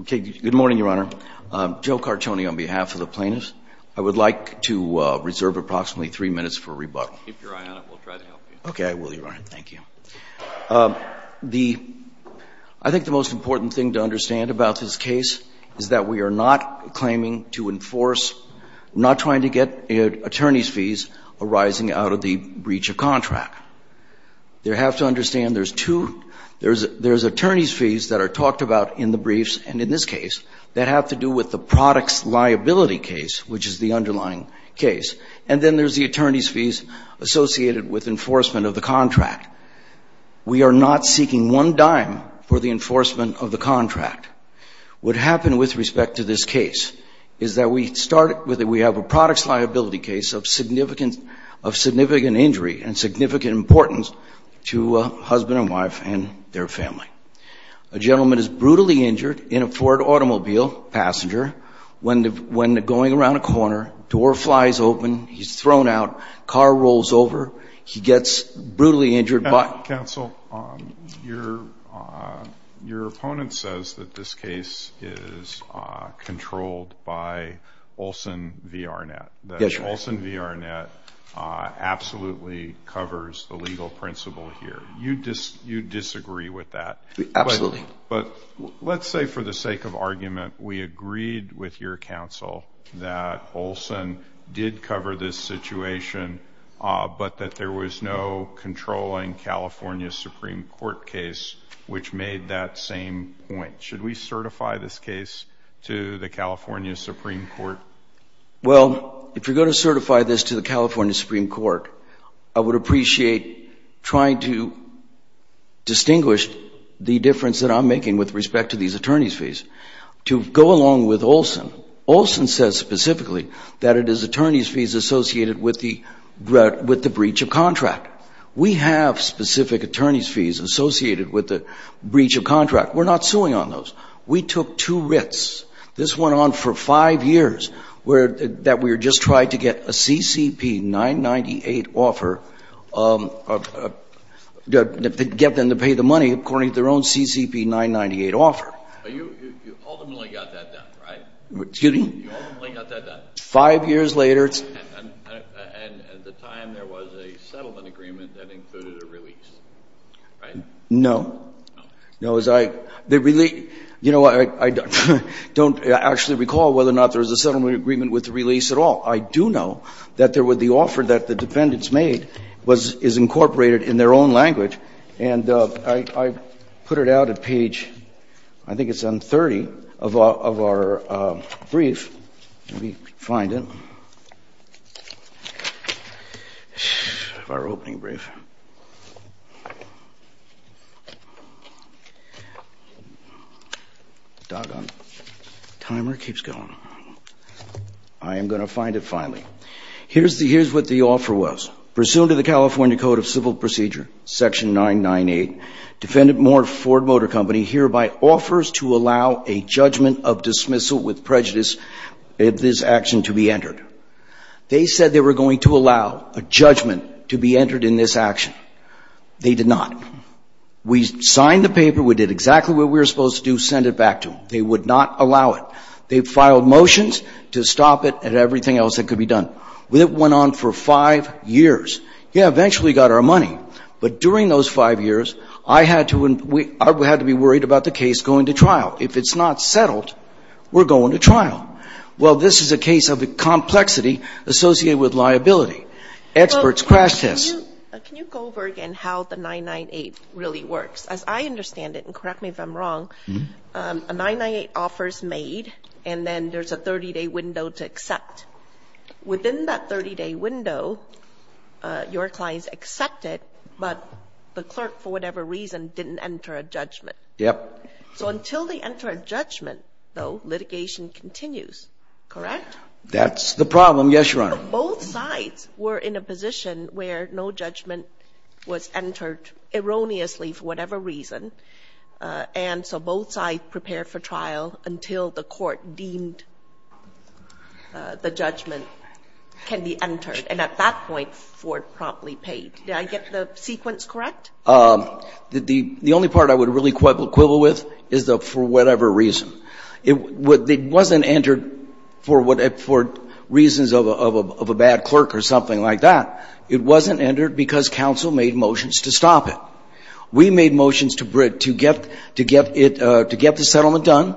Okay, good morning, Your Honor. Joe Cartoni on behalf of the plaintiffs, I would like to reserve approximately three minutes for rebuttal. Keep your eye on it. We'll try to help you. Okay, I will, Your Honor. Thank you. I think the most important thing to understand about this case is that we are not claiming to enforce, not trying to get attorney's fees arising out of the breach of contract. You have to understand there's two, there's attorney's fees that are talked about in the briefs and in this case that have to do with the product's liability case, which is the underlying case. And then there's the attorney's fees associated with enforcement of the contract. We are not seeking one dime for the enforcement of the contract. What happened with respect to this case is that we started with, we have a product's liability case of significant injury and significant importance to a husband and wife and their family. A gentleman is brutally injured in a Ford automobile, passenger, when going around a corner, door flies open, he's thrown out, car rolls over, he gets brutally injured. Counsel, your opponent says that this case is controlled by Olson v. Arnett. That Olson v. Arnett absolutely covers the legal principle here. You disagree with that. Absolutely. But let's say for the sake of argument, we agreed with your counsel that Olson did cover this situation, but that there was no controlling California Supreme Court case which made that same point. Should we certify this case to the California Supreme Court? Well, if you're going to certify this to the California Supreme Court, I would appreciate trying to distinguish the difference that I'm making with respect to these attorney's fees. To go along with Olson, Olson says specifically that it is attorney's fees associated with the breach of contract. We have specific attorney's fees associated with the breach of contract. We're not suing on those. We took two writs. This went on for five years that we were just trying to get a CCP 998 offer, get them to pay the money according to their own CCP 998 offer. But you ultimately got that done, right? Excuse me? You ultimately got that done. Five years later. And at the time there was a settlement agreement that included a release, right? No. No. I don't actually recall whether or not there was a settlement agreement with the release at all. I do know that there was the offer that the defendants made is incorporated in their own language, and I put it out at page, I think it's on 30, of our brief. Let me find it. Our opening brief. Doggone. Timer keeps going. I am going to find it finally. Here's what the offer was. Pursuant to the California Code of Civil Procedure, section 998, defendant Moore Ford Motor Company hereby offers to allow a judgment of dismissal with prejudice if this action to be entered. They said they were going to allow a judgment to be entered in this action. They did not. We signed the paper. We did exactly what we were supposed to do, send it back to them. They would not allow it. They filed motions to stop it and everything else that could be done. It went on for five years. Yeah, eventually got our money. But during those five years, I had to be worried about the case going to trial. If it's not settled, we're going to trial. Well, this is a case of the complexity associated with liability. Experts crash test. Can you go over again how the 998 really works? As I understand it, and correct me if I'm wrong, a 998 offer is made, and then there's a 30-day window to accept. Within that 30-day window, your clients accept it, but the clerk, for whatever reason, didn't enter a judgment. Yep. So until they enter a judgment, though, litigation continues, correct? That's the problem, yes, Your Honor. Both sides were in a position where no judgment was entered erroneously for whatever reason, and so both sides prepared for trial until the court deemed the judgment can be entered. And at that point, Ford promptly paid. Did I get the sequence correct? The only part I would really quibble with is the for whatever reason. It wasn't entered for reasons of a bad clerk or something like that. It wasn't entered because counsel made motions to stop it. We made motions to get the settlement done.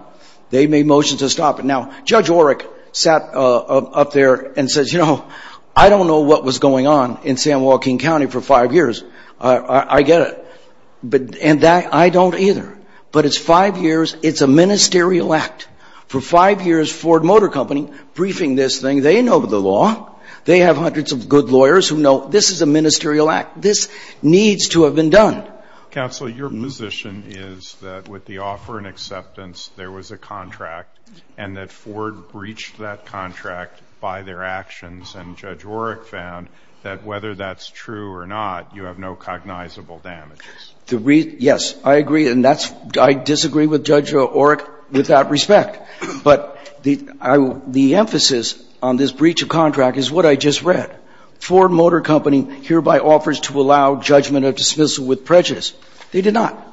They made motions to stop it. Now, Judge Orrick sat up there and says, you know, I don't know what was going on in San Joaquin County for five years. I get it. And I don't either. But it's five years. It's a ministerial act. For five years, Ford Motor Company, briefing this thing, they know the law. They have hundreds of good lawyers who know this is a ministerial act. This needs to have been done. Counsel, your position is that with the offer and acceptance, there was a contract and that Ford breached that contract by their actions, and Judge Orrick found that whether that's true or not, you have no cognizable damages. Yes, I agree. And that's why I disagree with Judge Orrick with that respect. But the emphasis on this breach of contract is what I just read. Ford Motor Company hereby offers to allow judgment of dismissal with prejudice. They did not.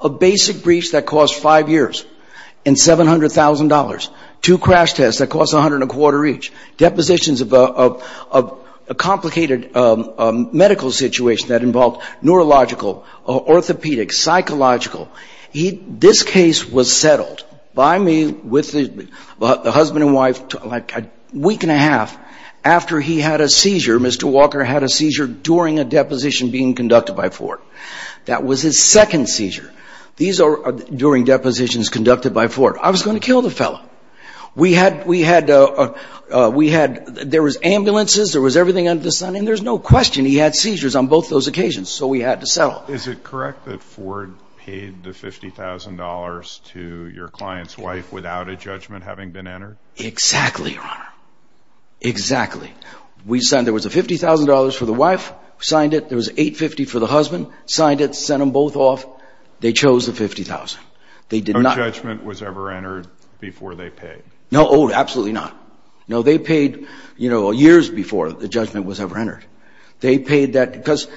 A basic breach that cost five years and $700,000, two crash tests that cost a hundred and a quarter each, depositions of a complicated medical situation that involved neurological, orthopedic, psychological. This case was settled by me with the husband and wife a week and a half after he had a seizure. Mr. Walker had a seizure during a deposition being conducted by Ford. That was his second seizure during depositions conducted by Ford. I was going to kill the fellow. There was ambulances, there was everything under the sun, and there's no question he had seizures on both those occasions, so we had to settle. Is it correct that Ford paid the $50,000 to your client's wife without a judgment having been entered? Exactly, Your Honor. Exactly. There was a $50,000 for the wife, signed it. There was $850,000 for the husband, signed it, sent them both off. They chose the $50,000. No judgment was ever entered before they paid. No, absolutely not. No, they paid years before the judgment was ever entered. They paid that because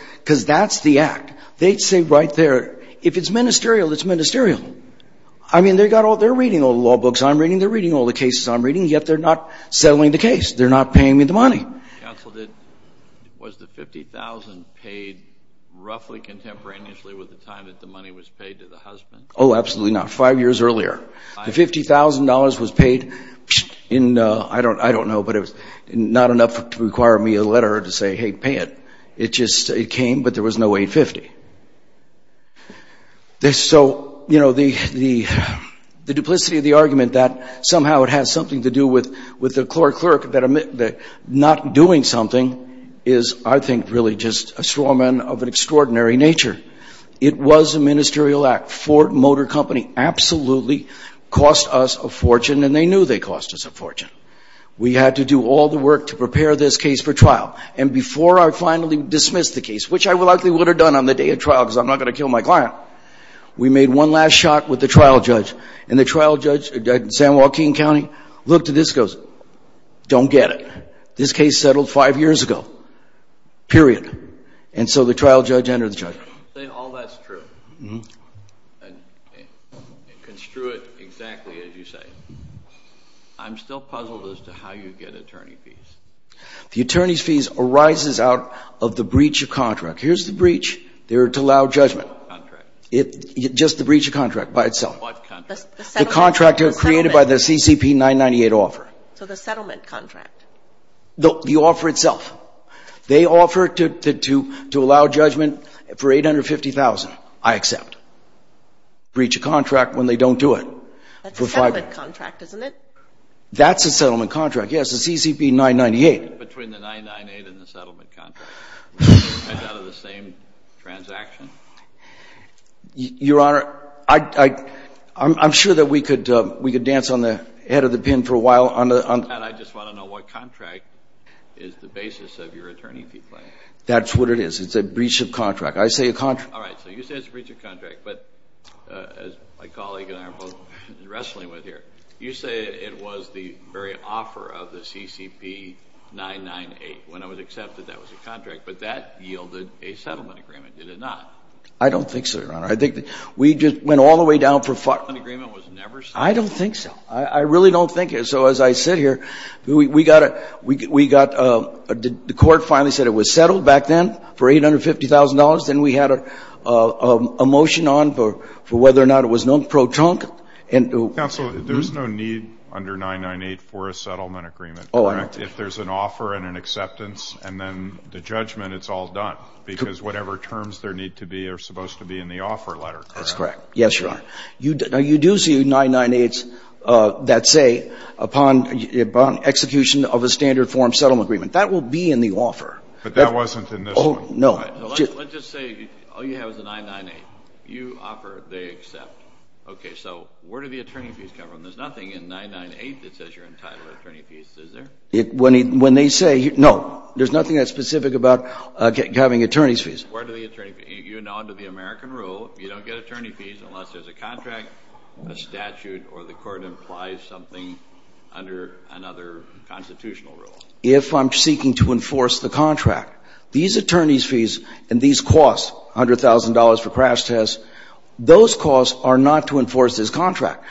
that's the act. They'd say right there, if it's ministerial, it's ministerial. I mean, they're reading all the law books I'm reading, they're reading all the cases I'm reading, yet they're not settling the case. They're not paying me the money. Counsel, was the $50,000 paid roughly contemporaneously with the time that the money was paid to the husband? Oh, absolutely not. Five years earlier. The $50,000 was paid in, I don't know, but it was not enough to require me a letter to say, hey, pay it. It just came, but there was no $850,000. So, you know, the duplicity of the argument that somehow it has something to do with the clerk not doing something is, I think, really just a strawman of an extraordinary nature. It was a ministerial act. Ford Motor Company absolutely cost us a fortune, and they knew they cost us a fortune. We had to do all the work to prepare this case for trial, and before I finally dismissed the case, which I likely would have done on the day of trial because I'm not going to kill my client, we made one last shot with the trial judge. And the trial judge at San Joaquin County looked at this and goes, don't get it. This case settled five years ago, period. And so the trial judge entered the judge. All that's true, and construed exactly as you say. I'm still puzzled as to how you get attorney fees. The attorney's fees arises out of the breach of contract. Here's the breach. They're to allow judgment. Just the breach of contract by itself. What contract? The contract created by the CCP 998 offer. So the settlement contract. The offer itself. They offer to allow judgment for $850,000. I accept. Breach of contract when they don't do it. That's a settlement contract, isn't it? That's a settlement contract, yes. It's a CCP 998. Between the 998 and the settlement contract. It's out of the same transaction. Your Honor, I'm sure that we could dance on the head of the pen for a while. I just want to know what contract is the basis of your attorney fee plan. That's what it is. It's a breach of contract. I say a contract. All right, so you say it's a breach of contract. But as my colleague and I are both wrestling with here, you say it was the very offer of the CCP 998. When it was accepted, that was a contract. But that yielded a settlement agreement. Did it not? I don't think so, Your Honor. We just went all the way down. The settlement agreement was never settled? I don't think so. I really don't think so. As I sit here, the court finally said it was settled back then for $850,000. Then we had a motion on for whether or not it was known pro-trunk. Counsel, there's no need under 998 for a settlement agreement, correct? If there's an offer and an acceptance and then the judgment, it's all done because whatever terms there need to be are supposed to be in the offer letter, correct? That's correct. Yes, Your Honor. Now, you do see 998s that say upon execution of a standard form settlement agreement. That will be in the offer. But that wasn't in this one. No. Let's just say all you have is a 998. You offer, they accept. Okay, so where do the attorney fees come from? There's nothing in 998 that says you're entitled to attorney fees, is there? When they say, no. There's nothing that's specific about having attorney's fees. Where do the attorney fees come from? Under the American rule, you don't get attorney fees unless there's a contract, a statute, or the court implies something under another constitutional rule. If I'm seeking to enforce the contract, these attorney's fees and these costs, $100,000 for crash tests, those costs are not to enforce this contract.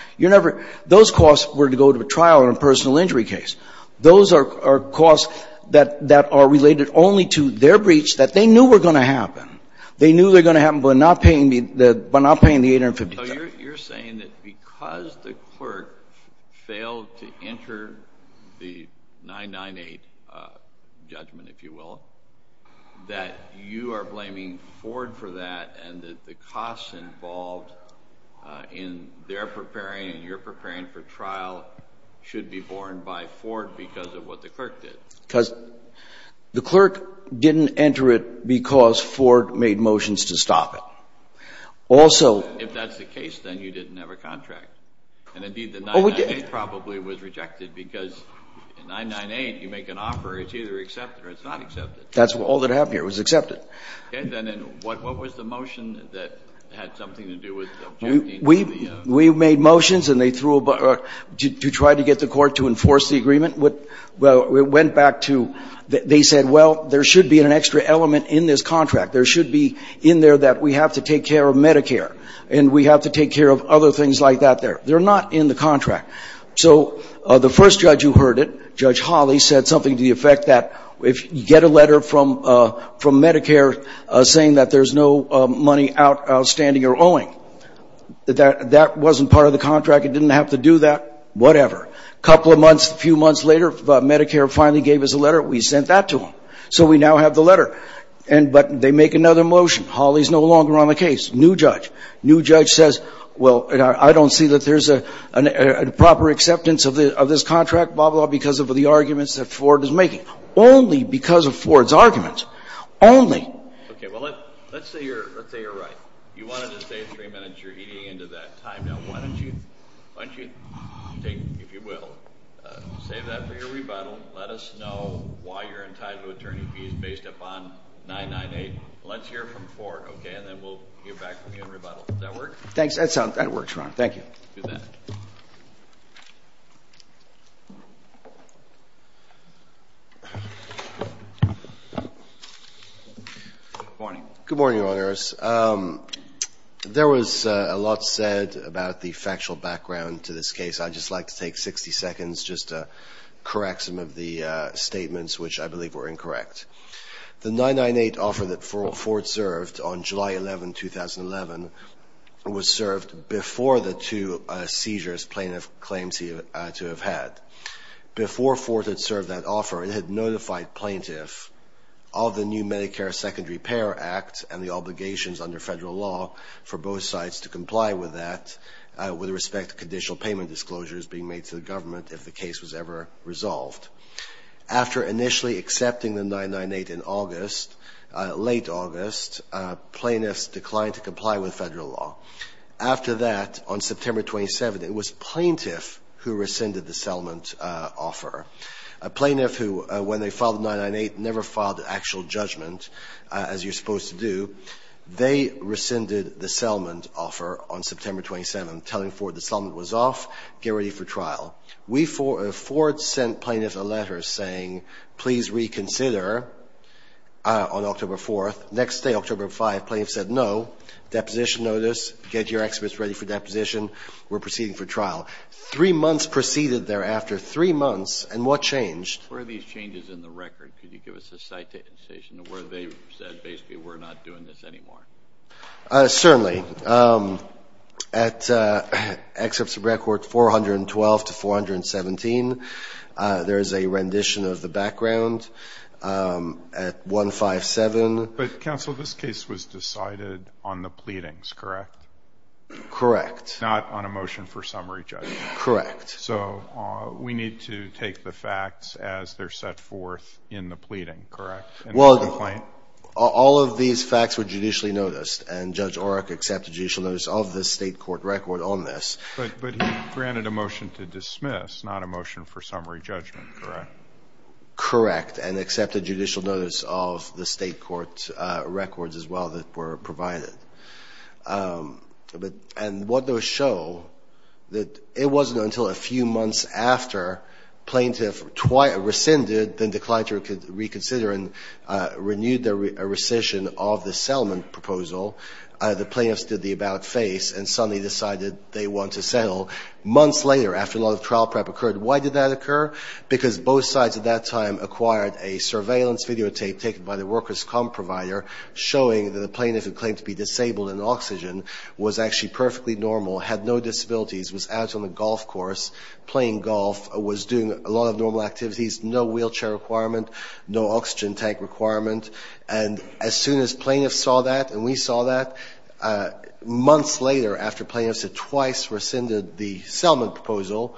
Those costs were to go to a trial in a personal injury case. Those are costs that are related only to their breach that they knew were going to happen. They knew they were going to happen by not paying the 850. So you're saying that because the court failed to enter the 998 judgment, if you will, that you are blaming Ford for that and that the costs involved in their preparing and your preparing for trial should be borne by Ford because of what the clerk did. Because the clerk didn't enter it because Ford made motions to stop it. Also... If that's the case, then you didn't have a contract. And, indeed, the 998 probably was rejected because 998, you make an offer, it's either accepted or it's not accepted. That's all that happened here. It was accepted. Okay. Then what was the motion that had something to do with objecting to the... We made motions and they threw a... To try to get the court to enforce the agreement. Well, it went back to they said, well, there should be an extra element in this contract. There should be in there that we have to take care of Medicare and we have to take care of other things like that there. They're not in the contract. So the first judge who heard it, Judge Hawley, said something to the effect that if you get a letter from Medicare saying that there's no money outstanding or owing, that that wasn't part of the contract. It didn't have to do that. Whatever. A couple of months, a few months later, Medicare finally gave us a letter. We sent that to them. So we now have the letter. But they make another motion. Hawley's no longer on the case. New judge. New judge says, well, I don't see that there's a proper acceptance of this contract, blah, blah, blah, because of the arguments that Ford is making. Only because of Ford's arguments. Only. Okay, well, let's say you're right. You wanted to stay three minutes. You're eating into that time. Now, why don't you take, if you will, save that for your rebuttal. Let us know why you're entitled to attorney fees based upon 998. Let's hear from Ford, okay? And then we'll get back to you in rebuttal. Does that work? That works, Your Honor. Thank you. Good morning. Good morning, Your Honors. There was a lot said about the factual background to this case. I'd just like to take 60 seconds just to correct some of the statements, which I believe were incorrect. The 998 offer that Ford served on July 11, 2011, was served before the two seizures plaintiff claimed to have had. Before Ford had served that offer, it had notified plaintiffs of the new Medicare Second Repair Act and the obligations under federal law for both sides to comply with that with respect to conditional payment disclosures being made to the government if the case was ever resolved. After initially accepting the 998 in August, late August, plaintiffs declined to comply with federal law. After that, on September 27, it was plaintiff who rescinded the settlement offer. A plaintiff who, when they filed 998, never filed an actual judgment, as you're supposed to do. They rescinded the settlement offer on September 27, telling Ford the settlement was off, get ready for trial. Ford sent plaintiffs a letter saying, please reconsider on October 4. Next day, October 5, plaintiffs said no, deposition notice, get your experts ready for deposition. We're proceeding for trial. Three months proceeded thereafter, three months, and what changed? Where are these changes in the record? Could you give us a citation of where they said basically we're not doing this anymore? Certainly. At excerpts of record 412 to 417, there is a rendition of the background at 157. But, counsel, this case was decided on the pleadings, correct? Correct. Not on a motion for summary judgment. Correct. So we need to take the facts as they're set forth in the pleading, correct? Well, all of these facts were judicially noticed, and Judge Oreck accepted judicial notice of the state court record on this. But he granted a motion to dismiss, not a motion for summary judgment, correct? Correct, and accepted judicial notice of the state court records as well that were provided. And what those show, that it wasn't until a few months after plaintiff rescinded, then declined to reconsider and renewed their rescission of the settlement proposal, the plaintiffs did the about-face and suddenly decided they want to settle. Months later, after a lot of trial prep occurred, why did that occur? Because both sides at that time acquired a surveillance videotape taken by the workers' comp provider showing that the plaintiff who claimed to be disabled in oxygen was actually perfectly normal, had no disabilities, was out on the golf course playing golf, was doing a lot of normal activities, no wheelchair requirement, no oxygen tank requirement. And as soon as plaintiffs saw that and we saw that, months later, after plaintiffs had twice rescinded the settlement proposal,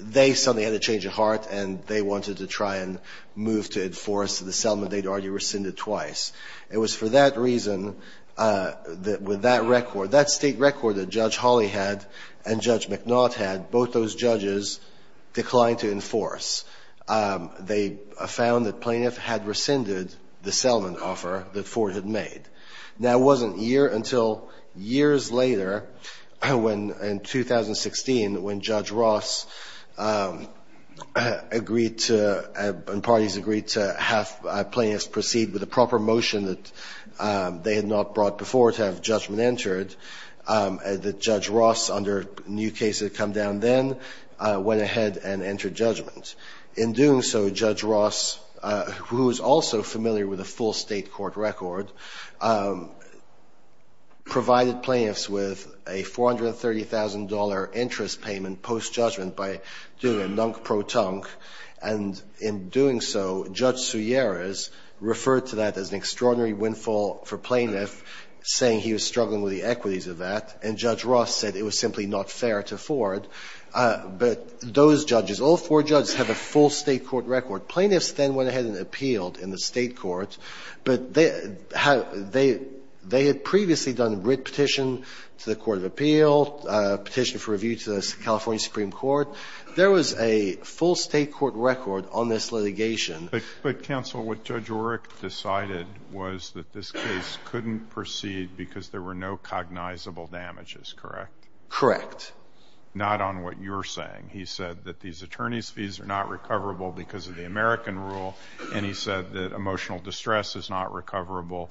they suddenly had a change of heart and they wanted to try and move to enforce the settlement they'd already rescinded twice. It was for that reason that with that record, that state record that Judge Hawley had and Judge McNaught had, both those judges declined to enforce. They found that plaintiff had rescinded the settlement offer that Ford had made. Now it wasn't until years later in 2016 when Judge Ross and parties agreed to have plaintiffs proceed with a proper motion that they had not brought before to have judgment entered that Judge Ross, under new cases that had come down then, went ahead and entered judgment. In doing so, Judge Ross, who was also familiar with the full state court record, provided plaintiffs with a $430,000 interest payment post-judgment by doing a nunk-pro-tunk. And in doing so, Judge Suarez referred to that as an extraordinary windfall for plaintiffs, saying he was struggling with the equities of that. And Judge Ross said it was simply not fair to Ford. But those judges, all four judges have a full state court record. Plaintiffs then went ahead and appealed in the state court. But they had previously done a writ petition to the court of appeal, a petition for review to the California Supreme Court. There was a full state court record on this litigation. But, counsel, what Judge Oreck decided was that this case couldn't proceed because there were no cognizable damages, correct? Correct. Not on what you're saying. He said that these attorney's fees are not recoverable because of the American rule, and he said that emotional distress is not recoverable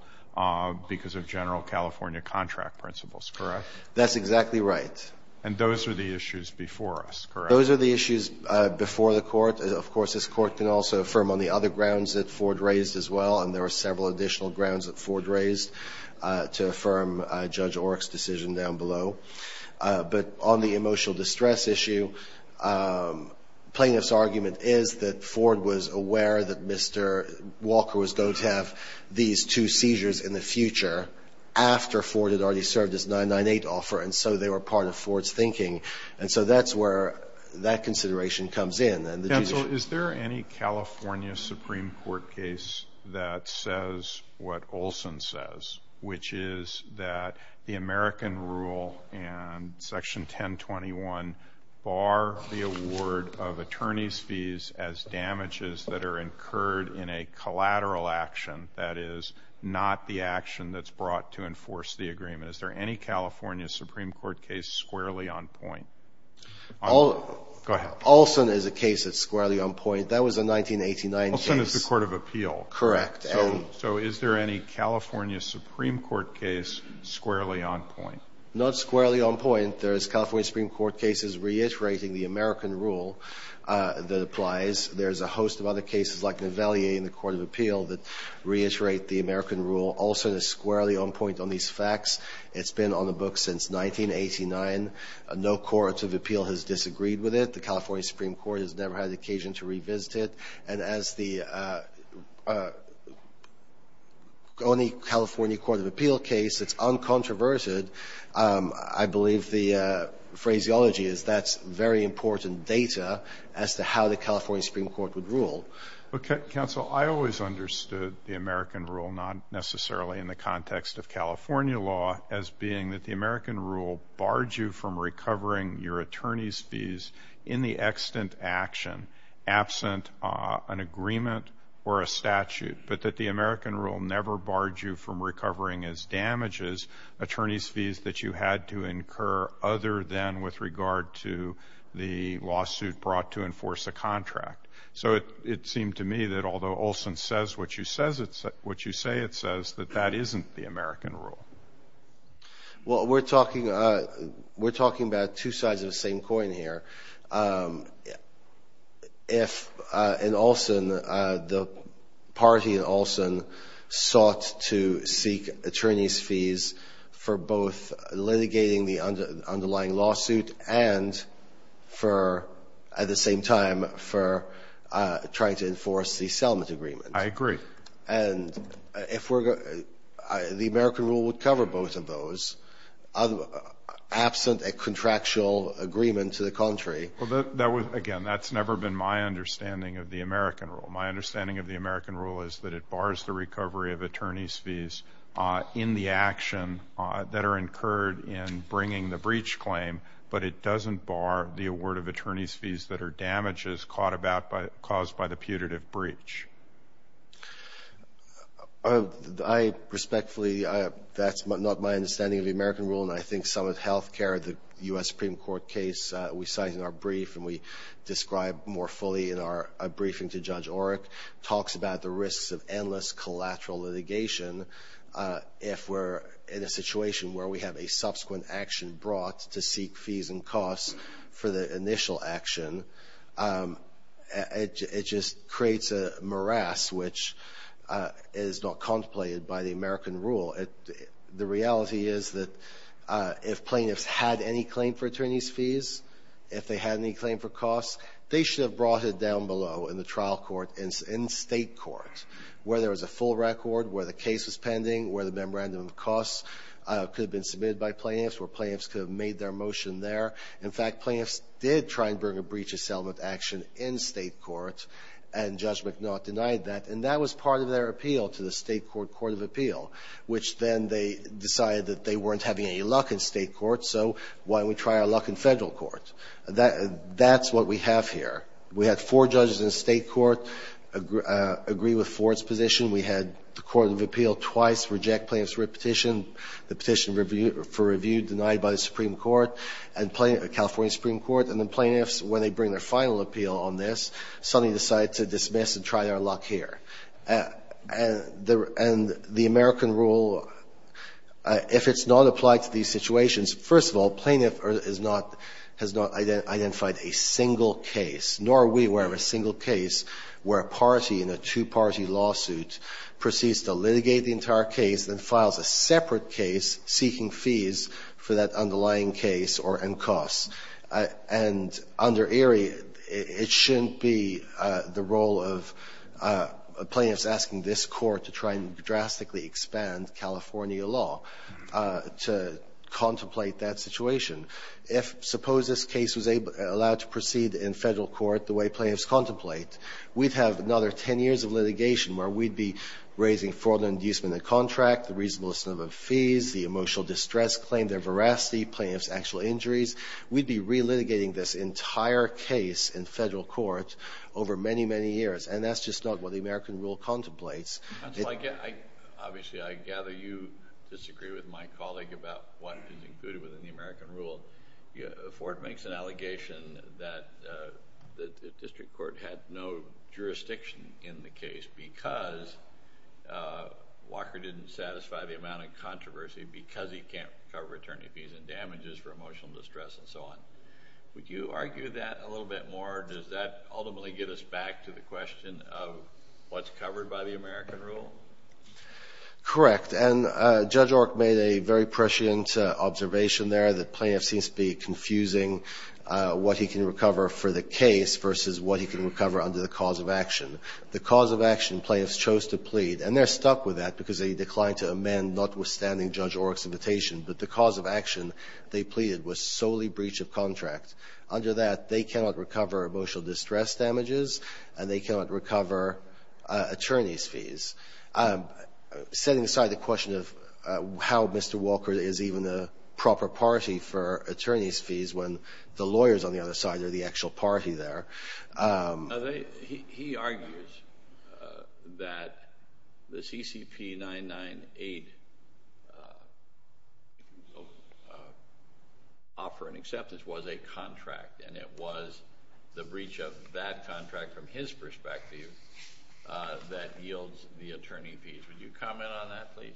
because of general California contract principles, correct? That's exactly right. Those are the issues before the court. Of course, this court can also affirm on the other grounds that Ford raised as well, and there are several additional grounds that Ford raised to affirm Judge Oreck's decision down below. But on the emotional distress issue, plaintiff's argument is that Ford was aware that Mr. Walker was going to have these two seizures in the future after Ford had already served his 998 offer, and so they were part of Ford's thinking. And so that's where that consideration comes in. Counsel, is there any California Supreme Court case that says what Olson says, which is that the American rule and Section 1021 bar the award of attorney's fees as damages that are incurred in a collateral action, that is, not the action that's brought to enforce the agreement? Is there any California Supreme Court case squarely on point? Go ahead. Olson is a case that's squarely on point. That was a 1989 case. Olson is the Court of Appeal. Correct. So is there any California Supreme Court case squarely on point? Not squarely on point. There's California Supreme Court cases reiterating the American rule that applies. There's a host of other cases like Nevalier in the Court of Appeal that reiterate the American rule. Olson is squarely on point on these facts. It's been on the books since 1989. No court of appeal has disagreed with it. The California Supreme Court has never had the occasion to revisit it. And as the only California Court of Appeal case that's uncontroverted, I believe the phraseology is that's very important data as to how the California Supreme Court would rule. Counsel, I always understood the American rule, not necessarily in the context of California law, as being that the American rule barred you from recovering your attorney's fees in the extant action, absent an agreement or a statute, but that the American rule never barred you from recovering as damages attorney's fees that you had to incur other than with regard to the lawsuit brought to enforce a contract. So it seemed to me that although Olson says what you say, it says that that isn't the American rule. Well, we're talking about two sides of the same coin here. If in Olson, the party in Olson sought to seek attorney's fees for both litigating the underlying lawsuit and for at the same time for trying to enforce the settlement agreement. I agree. And the American rule would cover both of those, absent a contractual agreement to the contrary. Well, again, that's never been my understanding of the American rule. My understanding of the American rule is that it bars the recovery of attorney's fees in the action that are incurred in bringing the breach claim, but it doesn't bar the award of attorney's fees that are damages caused by the putative breach. I respectfully, that's not my understanding of the American rule. And I think some of health care, the U.S. Supreme Court case we cite in our brief and we describe more fully in our briefing to Judge Orrick, talks about the risks of endless collateral litigation if we're in a situation where we have a subsequent action brought to seek fees and costs for the initial action. It just creates a morass which is not contemplated by the American rule. The reality is that if plaintiffs had any claim for attorney's fees, if they had any claim for costs, they should have brought it down below in the trial court in state court where there was a full record, where the case was pending, where the memorandum of costs could have been submitted by plaintiffs, where plaintiffs could have made their motion there. In fact, plaintiffs did try and bring a breach of settlement action in state court and Judge McNaught denied that. And that was part of their appeal to the state court court of appeal, which then they decided that they weren't having any luck in state court, so why don't we try our luck in federal court? That's what we have here. We had four judges in state court agree with Ford's position. We had the court of appeal twice reject plaintiff's petition, the petition for the California Supreme Court, and then plaintiffs, when they bring their final appeal on this, suddenly decide to dismiss and try their luck here. And the American rule, if it's not applied to these situations, first of all, plaintiff has not identified a single case, nor are we aware of a single case where a party in a two-party lawsuit proceeds to litigate the entire case and files a separate case seeking fees for that underlying case and costs. And under Erie, it shouldn't be the role of plaintiffs asking this court to try and drastically expand California law to contemplate that situation. If suppose this case was allowed to proceed in federal court the way plaintiffs contemplate, we'd have another ten years of litigation where we'd be raising the fraud and inducement of the contract, the reasonable sum of fees, the emotional distress claim, their veracity, plaintiff's actual injuries. We'd be relitigating this entire case in federal court over many, many years. And that's just not what the American rule contemplates. Obviously, I gather you disagree with my colleague about what is included within the American rule. Ford makes an allegation that the district court had no jurisdiction in the case because Walker didn't satisfy the amount of controversy because he can't cover attorney fees and damages for emotional distress and so on. Would you argue that a little bit more? Does that ultimately get us back to the question of what's covered by the American rule? Correct. And Judge Ork made a very prescient observation there that plaintiffs seem to be confusing what he can recover for the case versus what he can recover under the cause of action. The cause of action plaintiffs chose to plead, and they're stuck with that because they declined to amend notwithstanding Judge Ork's invitation, but the cause of action they pleaded was solely breach of contract. Under that, they cannot recover emotional distress damages, and they cannot recover attorney's fees. Setting aside the question of how Mr. Walker is even a proper party for attorney's fees when the lawyers on the other side are the actual party there. He argues that the CCP 998 offer and acceptance was a contract, and it was the breach of that contract from his perspective that yields the attorney fees. Would you comment on that, please?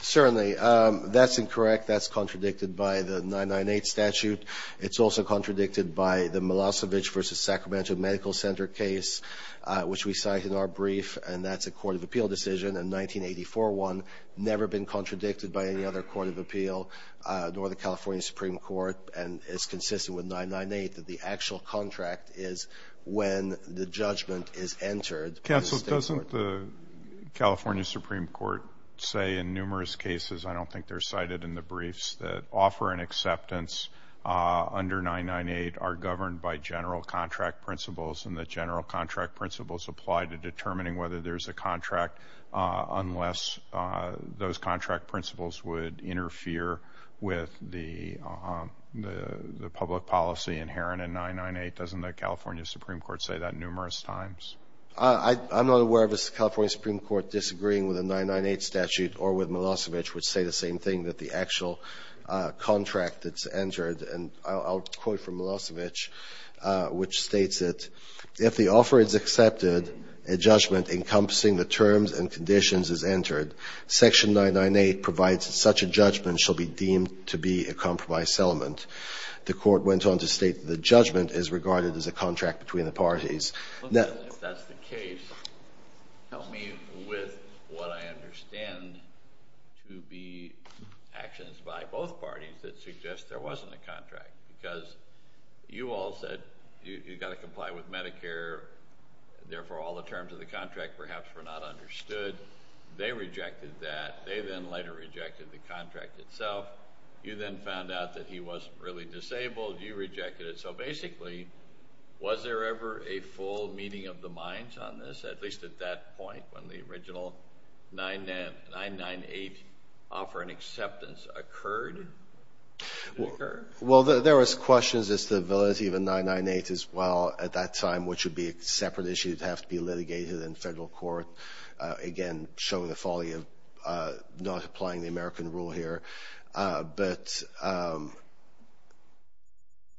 Certainly. That's incorrect. That's contradicted by the 998 statute. It's also contradicted by the Milosevic versus Sacramento Medical Center case, which we cite in our brief, and that's a court of appeal decision in 1984-1, never been contradicted by any other court of appeal, nor the California Supreme Court. And it's consistent with 998 that the actual contract is when the judgment is entered. Counsel, doesn't the California Supreme Court say in numerous cases, I don't think they're cited in the briefs, that offer and acceptance under 998 are governed by general contract principles and that general contract principles apply to determining whether there's a contract unless those contract principles would interfere with the public policy inherent in 998? Doesn't the California Supreme Court say that numerous times? I'm not aware of a California Supreme Court disagreeing with a 998 statute or with Milosevic, which say the same thing, that the actual contract that's entered, and I'll quote from Milosevic, which states that if the offer is accepted, a judgment encompassing the terms and conditions is entered, section 998 provides that such a judgment shall be deemed to be a compromised settlement. The court went on to state that the judgment is regarded as a contract between the parties. If that's the case, help me with what I understand to be actions by both parties that suggest there wasn't a contract, because you all said you've got to comply with Medicare, therefore all the terms of the contract perhaps were not understood. They rejected that. They then later rejected the contract itself. You then found out that he wasn't really disabled. You rejected it. So basically, was there ever a full meeting of the minds on this, at least at that point, when the original 998 offer and acceptance occurred? Well, there was questions as to the validity of a 998 as well at that time, which would be a separate issue that would have to be litigated in federal court. Again, showing the folly of not applying the American rule here. But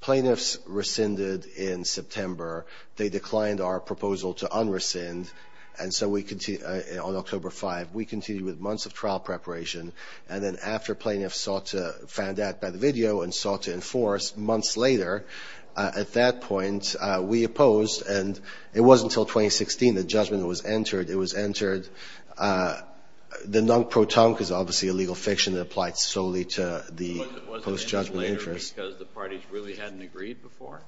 plaintiffs rescinded in September. They declined our proposal to un-rescind. And so on October 5, we continued with months of trial preparation. And then after plaintiffs sought to find out by the video and sought to enforce, months later at that point, we opposed. And it wasn't until 2016 the judgment was entered. It was entered. The non-protonque is obviously a legal fiction that applies solely to the post-judgment interest. Was it entered later because the parties really hadn't agreed before?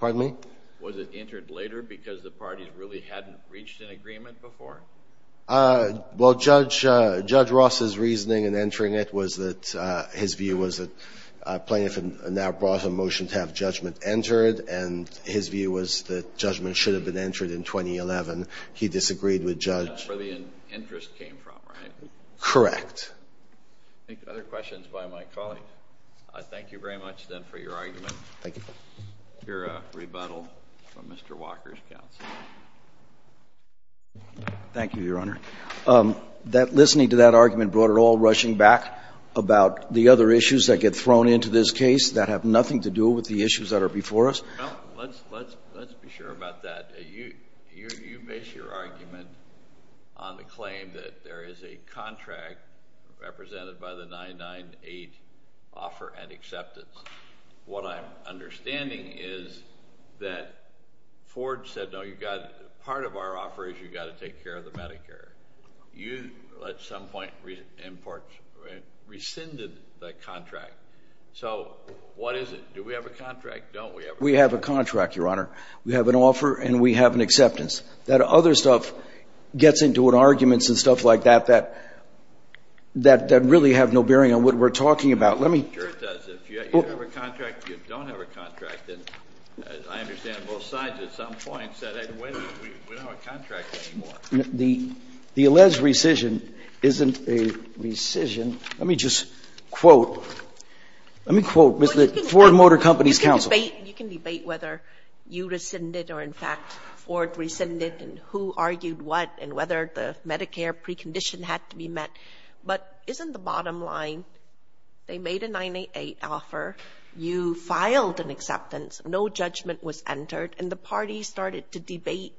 Pardon me? Was it entered later because the parties really hadn't reached an agreement before? Well, Judge Ross's reasoning in entering it was that his view was that plaintiff now brought a motion to have judgment entered. And his view was that judgment should have been entered in 2011. He disagreed with Judge. That's where the interest came from, right? Correct. Any other questions by my colleagues? I thank you very much, then, for your argument. Thank you. Your rebuttal from Mr. Walker's counsel. Thank you, Your Honor. That listening to that argument brought it all rushing back about the other issues that get thrown into this case that have nothing to do with the issues that are before us. Well, let's be sure about that. You base your argument on the claim that there is a contract represented by the 998 offer and acceptance. What I'm understanding is that Ford said, no, part of our offer is you've got to take care of the Medicare. You, at some point, rescinded that contract. So what is it? Do we have a contract? Don't we have a contract? We have a contract, Your Honor. We have an offer and we have an acceptance. That other stuff gets into arguments and stuff like that that really have no bearing on what we're talking about. Sure it does. If you have a contract, you don't have a contract. And I understand both sides at some point said, wait a minute, we don't have a contract anymore. The alleged rescission isn't a rescission. Let me just quote. Let me quote Ford Motor Company's counsel. You can debate whether you rescinded or, in fact, Ford rescinded and who argued what and whether the Medicare precondition had to be met. But isn't the bottom line, they made a 988 offer, you filed an acceptance, no judgment was entered, and the parties started to debate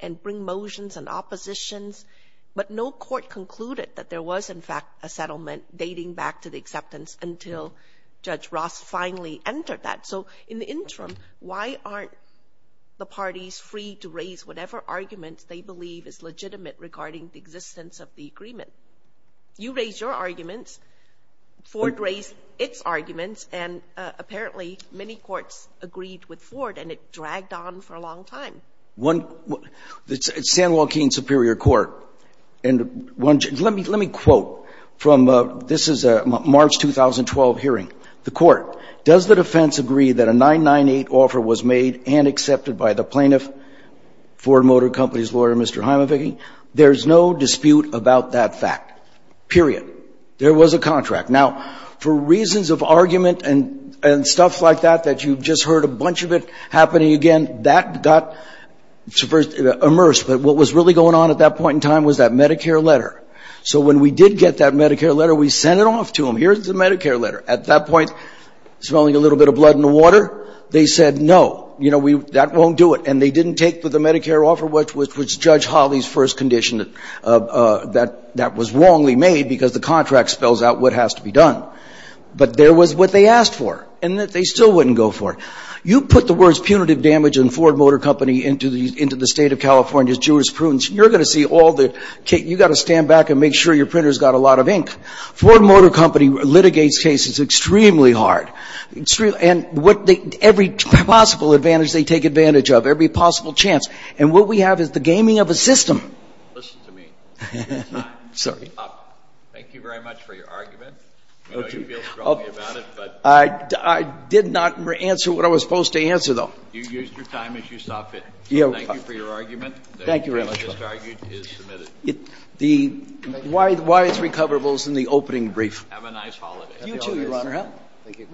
and bring motions and oppositions, but no court concluded that there was, in fact, a settlement dating back to the acceptance until Judge Ross finally entered that. So in the interim, why aren't the parties free to raise whatever arguments they believe is legitimate regarding the existence of the agreement? You raise your arguments, Ford raised its arguments, and apparently many courts agreed with Ford and it dragged on for a long time. The San Joaquin Superior Court, and let me quote from this March 2012 hearing. The court, does the defense agree that a 998 offer was made and accepted by the plaintiff, Ford Motor Company's lawyer, Mr. Heimovicky? There's no dispute about that fact, period. There was a contract. Now, for reasons of argument and stuff like that that you've just heard a bunch of it happening again, that got immersed. But what was really going on at that point in time was that Medicare letter. So when we did get that Medicare letter, we sent it off to them. Here's the Medicare letter. At that point, smelling a little bit of blood in the water, they said no. You know, that won't do it. And they didn't take the Medicare offer, which was Judge Hawley's first condition, that that was wrongly made because the contract spells out what has to be done. But there was what they asked for, and that they still wouldn't go for. You put the words punitive damage and Ford Motor Company into the State of California's jurisprudence, you're going to see all the cake. Ford Motor Company litigates cases extremely hard, and every possible advantage they take advantage of, every possible chance. And what we have is the gaming of a system. Listen to me. Your time is up. Thank you very much for your argument. I know you feel strongly about it. I did not answer what I was supposed to answer, though. You used your time as you saw fit. Thank you for your argument. Thank you very much. The argument is submitted. Why it's recoverable is in the opening brief. Have a nice holiday. You too, Your Honor. Thank you.